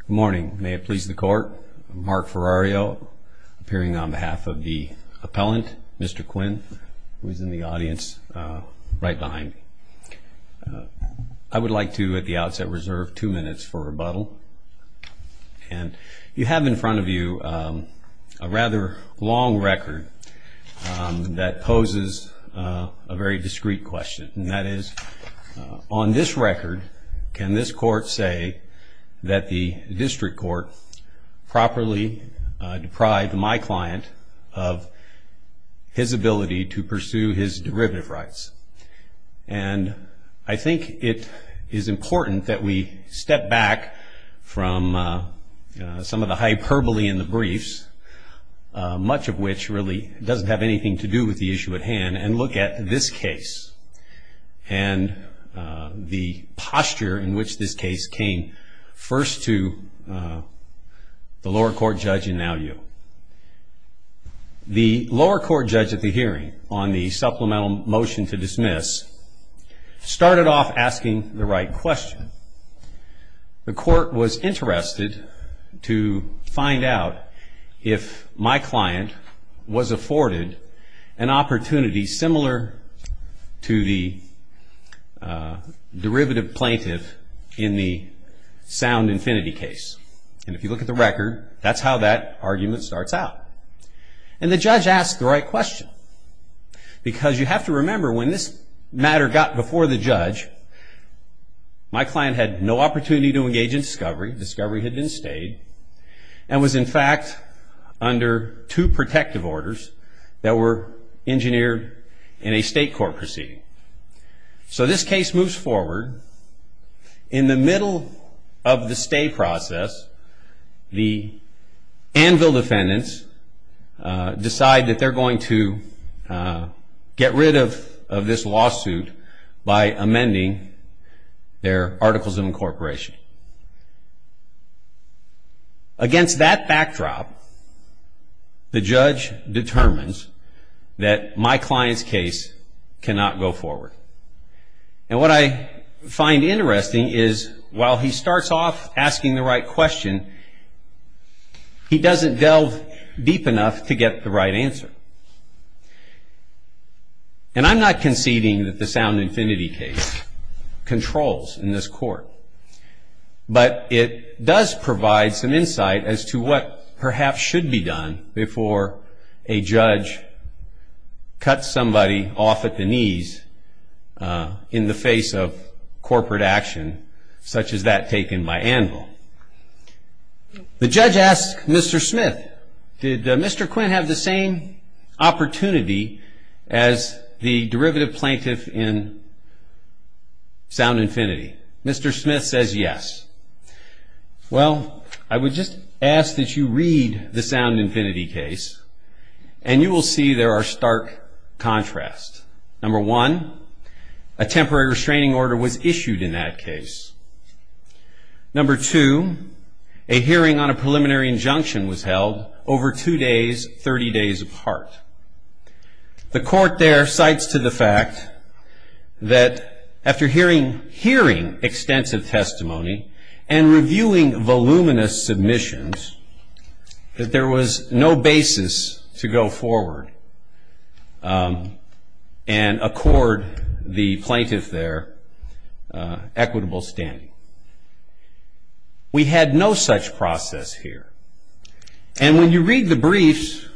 Good morning. May it please the court, Mark Ferrario appearing on behalf of the appellant, Mr. Quinn, who is in the audience right behind me. I would like to, at the outset, reserve two minutes for rebuttal. You have in front of you a rather long record that poses a very discreet question. And that is, on this record, can this court say that the district court properly deprived my client of his ability to pursue his derivative rights? And I think it is important that we step back from some of the hyperbole in the briefs, much of which really doesn't have anything to do with the issue at hand, and look at this case and the posture in which this case came first to the lower court judge and now you. The lower court judge at the hearing on the supplemental motion to dismiss started off asking the right question. The court was interested to find out if my client was afforded an opportunity similar to the derivative plaintiff in the sound infinity case. And if you look at the record, that's how that argument starts out. And the judge asked the right question. Because you have to remember, when this matter got before the judge, my client had no opportunity to engage in discovery. Discovery had been stayed and was, in fact, under two protective orders that were engineered in a state court proceeding. So this case moves forward. In the middle of the stay process, the Anvil defendants decide that they're going to get rid of this lawsuit by amending their articles of incorporation. Against that backdrop, the judge determines that my client's case cannot go forward. And what I find interesting is, while he starts off asking the right question, he doesn't delve deep enough to get the right answer. And I'm not conceding that the sound infinity case controls in this court. But it does provide some insight as to what perhaps should be done before a judge cuts somebody off at the knees in the face of corporate action, such as that taken by Anvil. The judge asks Mr. Smith, did Mr. Quinn have the same opportunity as the derivative plaintiff in sound infinity? Mr. Smith says yes. Well, I would just ask that you read the sound infinity case, and you will see there are stark contrasts. Number one, a temporary restraining order was issued in that case. Number two, a hearing on a preliminary injunction was held over two days, 30 days apart. The court there cites to the fact that after hearing extensive testimony and reviewing voluminous submissions, that there was no basis to go forward and accord the plaintiff their equitable standing. We had no such process here. And when you read the briefs,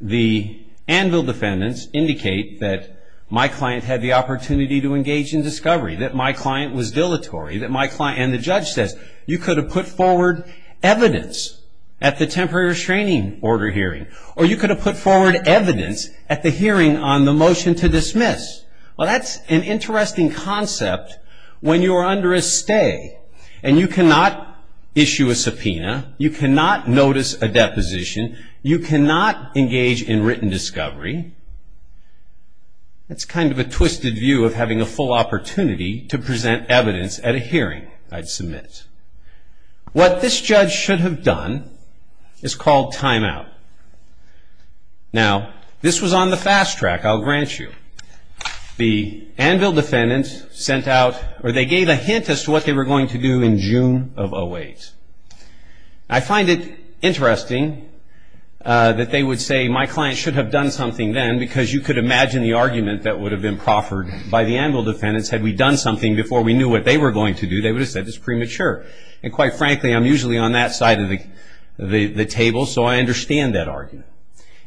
the Anvil defendants indicate that my client had the opportunity to engage in discovery, that my client was dilatory, and the judge says you could have put forward evidence at the temporary restraining order hearing, or you could have put forward evidence at the hearing on the motion to dismiss. Well, that's an interesting concept when you are under a stay, and you cannot issue a subpoena. You cannot notice a deposition. You cannot engage in written discovery. That's kind of a twisted view of having a full opportunity to present evidence at a hearing, I'd submit. What this judge should have done is called timeout. Now, this was on the fast track, I'll grant you. The Anvil defendants sent out, or they gave a hint as to what they were going to do in June of 08. I find it interesting that they would say my client should have done something then, because you could imagine the argument that would have been proffered by the Anvil defendants had we done something before we knew what they were going to do. They would have said it's premature. And quite frankly, I'm usually on that side of the table, so I understand that argument.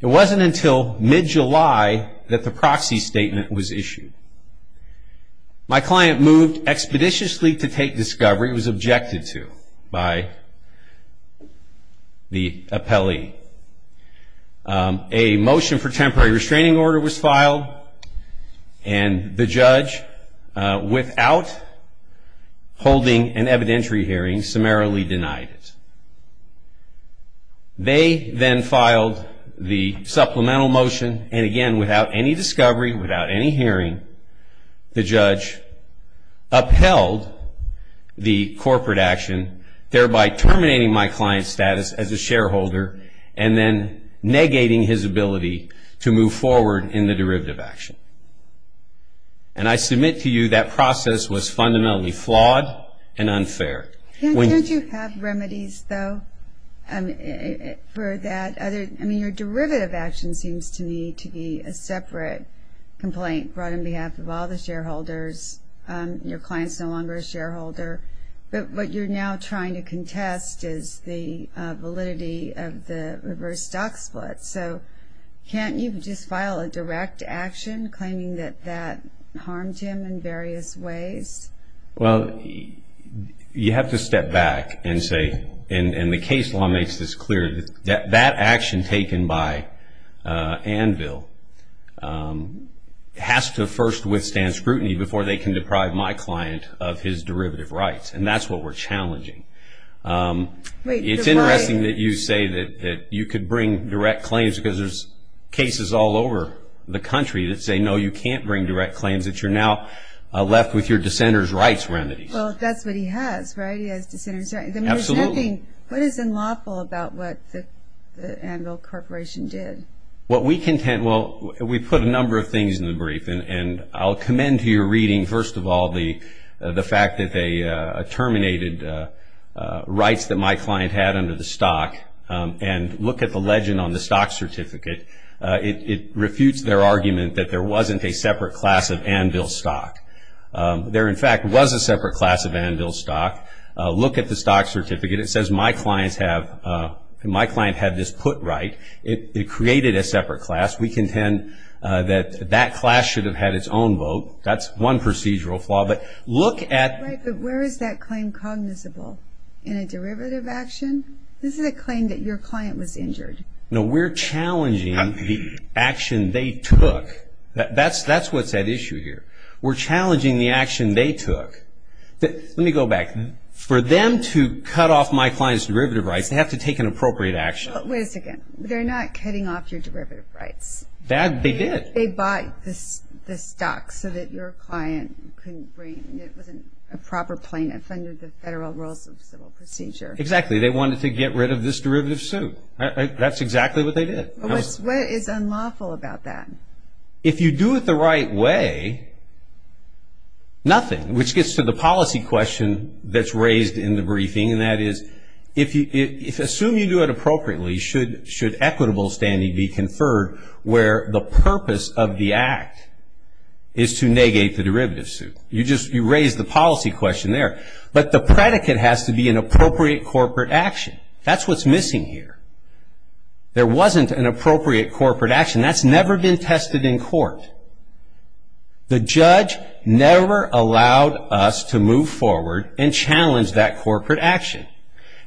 It wasn't until mid-July that the proxy statement was issued. My client moved expeditiously to take discovery. It was objected to by the appellee. A motion for temporary restraining order was filed, and the judge, without holding an evidentiary hearing, summarily denied it. They then filed the supplemental motion, and again, without any discovery, without any hearing, the judge upheld the corporate action, thereby terminating my client's status as a shareholder, and then negating his ability to move forward in the derivative action. And I submit to you that process was fundamentally flawed and unfair. Can't you have remedies, though, for that? I mean, your derivative action seems to me to be a separate complaint brought on behalf of all the shareholders. Your client's no longer a shareholder. But what you're now trying to contest is the validity of the reverse stock split. So can't you just file a direct action claiming that that harmed him in various ways? Well, you have to step back and say, and the case law makes this clear, that that action taken by Anvil has to first withstand scrutiny before they can deprive my client of his derivative rights. And that's what we're challenging. It's interesting that you say that you could bring direct claims because there's cases all over the country that say, no, you can't bring direct claims, that you're now left with your dissenter's rights remedies. Well, that's what he has, right? He has dissenter's rights. Absolutely. What is unlawful about what the Anvil Corporation did? Well, we put a number of things in the brief, and I'll commend to your reading, first of all, the fact that they terminated rights that my client had under the stock. And look at the legend on the stock certificate. It refutes their argument that there wasn't a separate class of Anvil stock. There, in fact, was a separate class of Anvil stock. Look at the stock certificate. It says my client had this put right. It created a separate class. We contend that that class should have had its own vote. That's one procedural flaw. But look at the- Right, but where is that claim cognizable? In a derivative action? This is a claim that your client was injured. No, we're challenging the action they took. That's what's at issue here. We're challenging the action they took. Let me go back. For them to cut off my client's derivative rights, they have to take an appropriate action. Wait a second. They're not cutting off your derivative rights. They did. They bought the stock so that your client couldn't bring it. It wasn't a proper plaintiff under the federal rules of civil procedure. Exactly. They wanted to get rid of this derivative suit. That's exactly what they did. What is unlawful about that? If you do it the right way, nothing, which gets to the policy question that's raised in the briefing, and that is if you assume you do it appropriately, should equitable standing be conferred where the purpose of the act is to negate the derivative suit? You just raised the policy question there. But the predicate has to be an appropriate corporate action. That's what's missing here. There wasn't an appropriate corporate action. That's never been tested in court. The judge never allowed us to move forward and challenge that corporate action.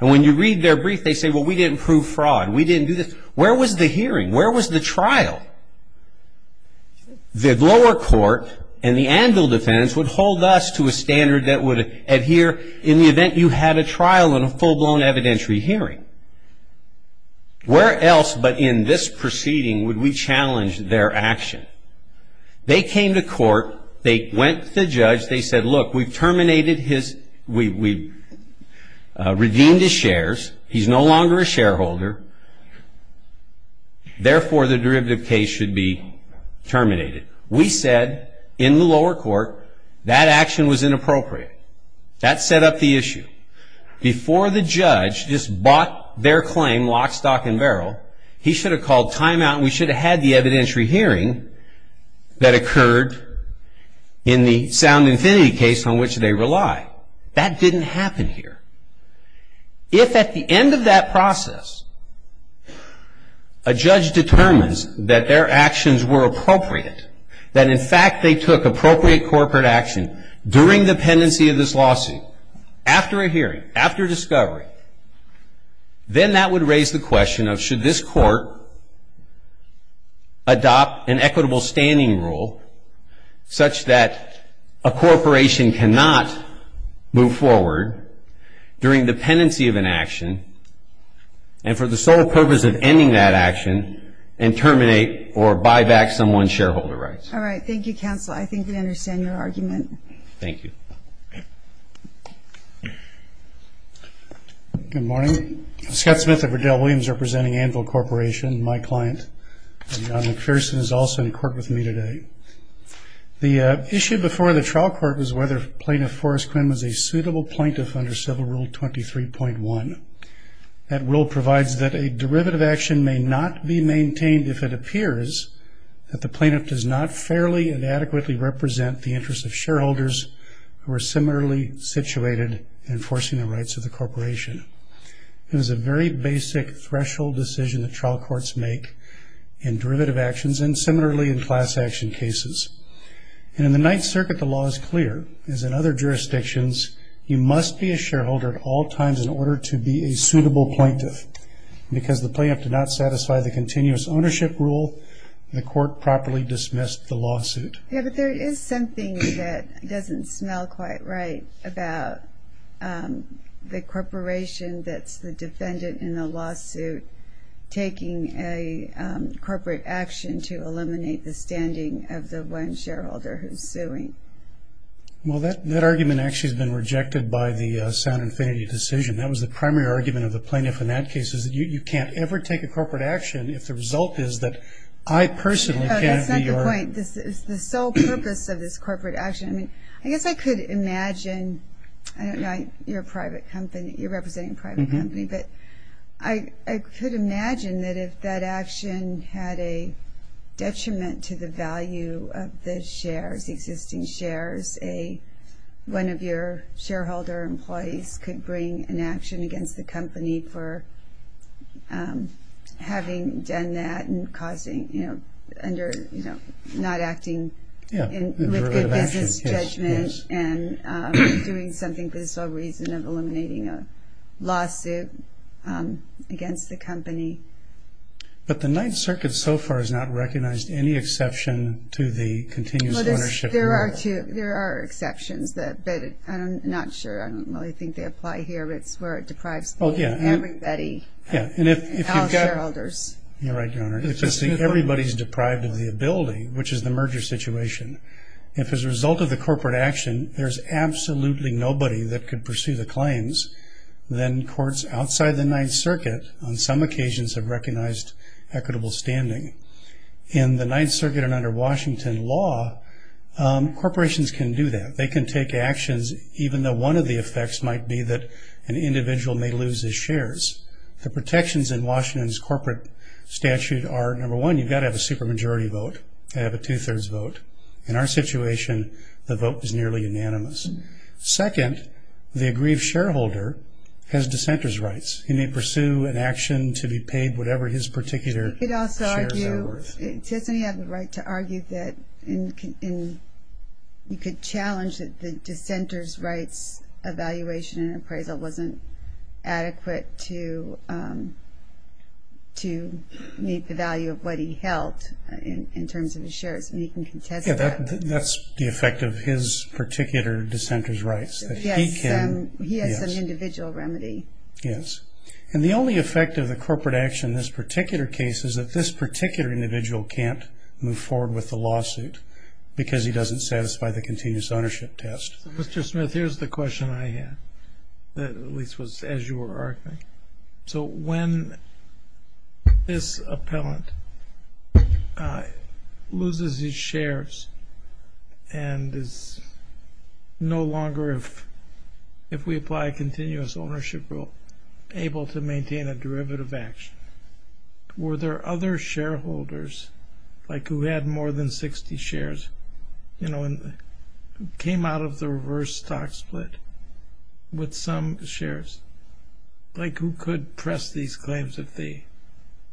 And when you read their brief, they say, well, we didn't prove fraud. We didn't do this. Where was the hearing? Where was the trial? The lower court and the anvil defense would hold us to a standard that would adhere in the event you had a trial in a full-blown evidentiary hearing. Where else but in this proceeding would we challenge their action? They came to court. They went to the judge. They said, look, we've terminated his ‑‑ we've redeemed his shares. He's no longer a shareholder. Therefore, the derivative case should be terminated. We said in the lower court that action was inappropriate. That set up the issue. Before the judge just bought their claim, lock, stock, and barrel, he should have called timeout and we should have had the evidentiary hearing that occurred in the sound infinity case on which they rely. That didn't happen here. If at the end of that process a judge determines that their actions were appropriate, that in fact they took appropriate corporate action during the pendency of this lawsuit, after a hearing, after discovery, then that would raise the question of should this court adopt an equitable standing rule such that a corporation cannot move forward during the pendency of an action and for the sole purpose of ending that action and terminate or buy back someone's shareholder rights. All right. Thank you, counsel. I think we understand your argument. Thank you. Good morning. Scott Smith of Riddell Williams representing Anvil Corporation. My client, John McPherson, is also in court with me today. The issue before the trial court was whether Plaintiff Forrest Quinn was a suitable plaintiff under Civil Rule 23.1. That rule provides that a derivative action may not be maintained if it appears that the plaintiff does not fairly and adequately represent the interests of shareholders who are similarly situated in enforcing the rights of the corporation. It was a very basic threshold decision that trial courts make in derivative actions and similarly in class action cases. And in the Ninth Circuit, the law is clear, as in other jurisdictions, you must be a shareholder at all times in order to be a suitable plaintiff. Because the plaintiff did not satisfy the continuous ownership rule, the court properly dismissed the lawsuit. Yeah, but there is something that doesn't smell quite right about the corporation that's the defendant in the lawsuit taking a corporate action to eliminate the standing of the one shareholder who's suing. Well, that argument actually has been rejected by the sound infinity decision. That was the primary argument of the plaintiff in that case, is that you can't ever take a corporate action if the result is that I personally That's not the point. This is the sole purpose of this corporate action. I guess I could imagine, I don't know, you're representing a private company, but I could imagine that if that action had a detriment to the value of the shares, the existing shares, one of your shareholder employees could bring an action not acting with good business judgment and doing something for the sole reason of eliminating a lawsuit against the company. But the Ninth Circuit so far has not recognized any exception to the continuous ownership rule. There are exceptions, but I'm not sure. I don't really think they apply here. It's where it deprives everybody, all shareholders. You're right, Your Honor. Everybody's deprived of the ability, which is the merger situation. If as a result of the corporate action, there's absolutely nobody that could pursue the claims, then courts outside the Ninth Circuit on some occasions have recognized equitable standing. In the Ninth Circuit and under Washington law, corporations can do that. They can take actions even though one of the effects might be that an individual may lose his shares. The protections in Washington's corporate statute are, number one, you've got to have a supermajority vote, have a two-thirds vote. In our situation, the vote is nearly unanimous. Second, the aggrieved shareholder has dissenter's rights. He may pursue an action to be paid whatever his particular shares are worth. He could also argue, he doesn't have the right to argue that you could challenge that the dissenter's rights evaluation and appraisal wasn't adequate to meet the value of what he held in terms of his shares. He can contest that. That's the effect of his particular dissenter's rights. Yes, he has some individual remedy. Yes. And the only effect of the corporate action in this particular case is that this particular individual can't move forward with the lawsuit because he doesn't satisfy the continuous ownership test. Mr. Smith, here's the question I had that at least was as you were arguing. So when this appellant loses his shares and is no longer, if we apply a continuous ownership rule, able to maintain a derivative action, were there other shareholders like who had more than 60 shares, you know, and came out of the reverse stock split with some shares, like who could press these claims if they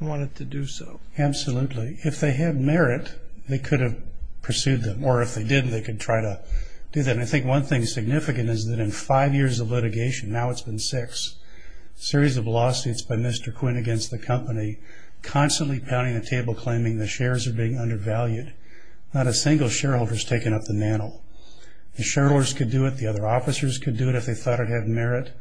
wanted to do so? Absolutely. If they had merit, they could have pursued them. Or if they didn't, they could try to do that. A series of lawsuits by Mr. Quinn against the company, constantly pounding the table claiming the shares are being undervalued. Not a single shareholder has taken up the mantle. The shareholders could do it. The other officers could do it if they thought it had merit.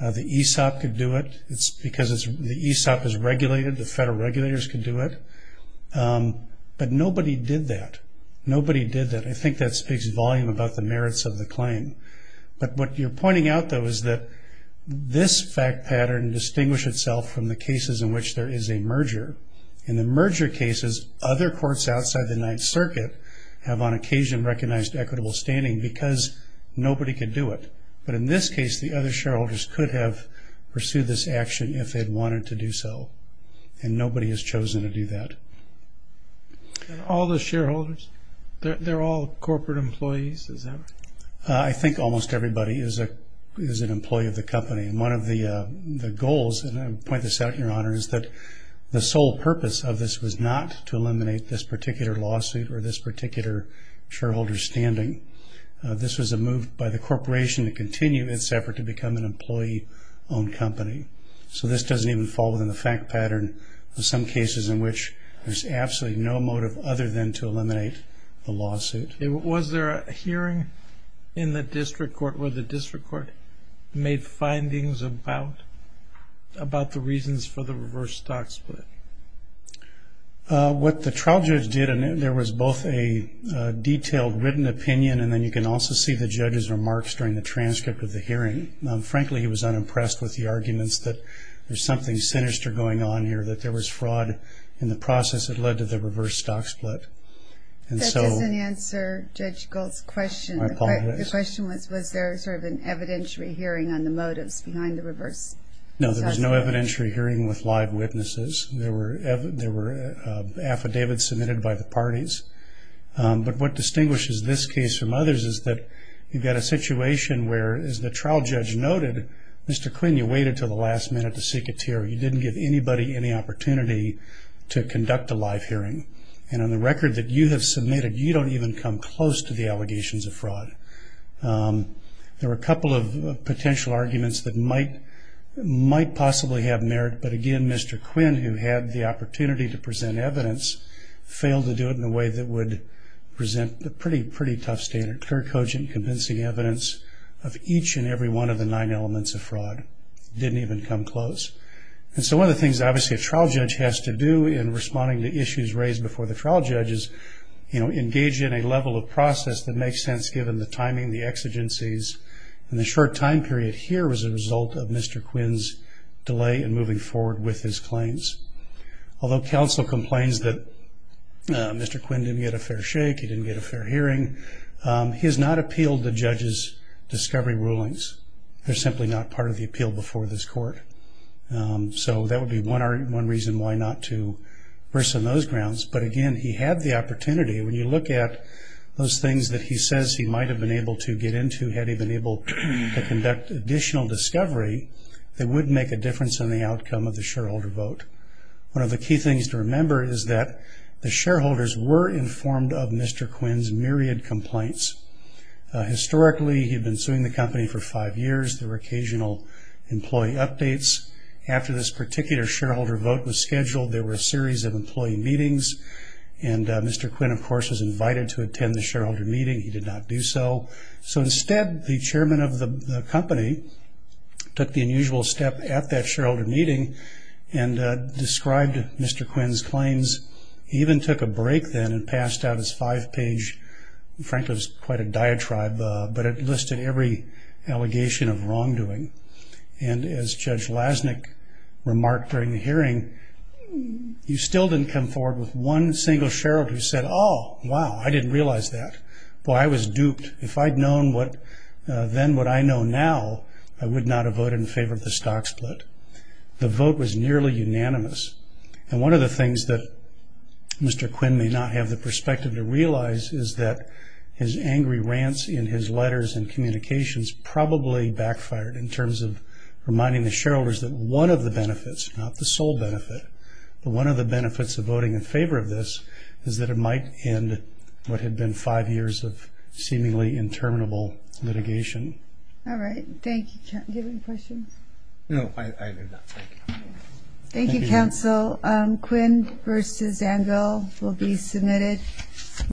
The ESOP could do it because the ESOP is regulated. The federal regulators could do it. But nobody did that. Nobody did that. I think that speaks volumes about the merits of the claim. But what you're pointing out, though, is that this fact pattern distinguished itself from the cases in which there is a merger. In the merger cases, other courts outside the Ninth Circuit have on occasion recognized equitable standing because nobody could do it. But in this case, the other shareholders could have pursued this action if they'd wanted to do so. And nobody has chosen to do that. All the shareholders, they're all corporate employees, is that right? I think almost everybody is an employee of the company. One of the goals, and I'll point this out, Your Honor, is that the sole purpose of this was not to eliminate this particular lawsuit or this particular shareholder's standing. This was a move by the corporation to continue its effort to become an employee-owned company. So this doesn't even fall within the fact pattern of some cases in which there's absolutely no motive other than to eliminate the lawsuit. Was there a hearing in the district court where the district court made findings about the reasons for the reverse stock split? What the trial judge did, and there was both a detailed written opinion, and then you can also see the judge's remarks during the transcript of the hearing, frankly, he was unimpressed with the arguments that there's something sinister going on here, that there was fraud in the process that led to the reverse stock split. That doesn't answer Judge Gold's question. My apologies. The question was, was there sort of an evidentiary hearing on the motives behind the reverse stock split? No, there was no evidentiary hearing with live witnesses. There were affidavits submitted by the parties. But what distinguishes this case from others is that you've got a situation where, as the trial judge noted, Mr. Quinn, you waited until the last minute to seek a tear. You didn't give anybody any opportunity to conduct a live hearing. And on the record that you have submitted, you don't even come close to the allegations of fraud. There were a couple of potential arguments that might possibly have merit, but, again, Mr. Quinn, who had the opportunity to present evidence, failed to do it in a way that would present a pretty tough statement, clear, cogent, convincing evidence of each and every one of the nine elements of fraud. Didn't even come close. And so one of the things, obviously, a trial judge has to do in responding to issues raised before the trial judge is engage in a level of process that makes sense, given the timing, the exigencies. And the short time period here was a result of Mr. Quinn's delay in moving forward with his claims. Although counsel complains that Mr. Quinn didn't get a fair shake, he didn't get a fair hearing, he has not appealed the judge's discovery rulings. They're simply not part of the appeal before this court. So that would be one reason why not to worsen those grounds. But, again, he had the opportunity. When you look at those things that he says he might have been able to get into had he been able to conduct additional discovery, it would make a difference in the outcome of the shareholder vote. One of the key things to remember is that the shareholders were informed of Mr. Quinn's myriad complaints. Historically, he had been suing the company for five years. There were occasional employee updates. After this particular shareholder vote was scheduled, there were a series of employee meetings, and Mr. Quinn, of course, was invited to attend the shareholder meeting. He did not do so. So instead, the chairman of the company took the unusual step at that shareholder meeting and described Mr. Quinn's claims. He even took a break then and passed out his five-page, frankly, it was quite a diatribe, but it listed every allegation of wrongdoing. And as Judge Lasnik remarked during the hearing, he still didn't come forward with one single shareholder who said, oh, wow, I didn't realize that. Boy, I was duped. If I'd known then what I know now, I would not have voted in favor of the stock split. The vote was nearly unanimous. And one of the things that Mr. Quinn may not have the perspective to realize is that his angry rants in his letters and communications probably backfired in terms of reminding the shareholders that one of the benefits, not the sole benefit, but one of the benefits of voting in favor of this is that it might end what had been five years of seemingly interminable litigation. All right. Thank you. Do you have any questions? No, I do not. Thank you. Thank you, counsel. Quinn v. Angle will be submitted.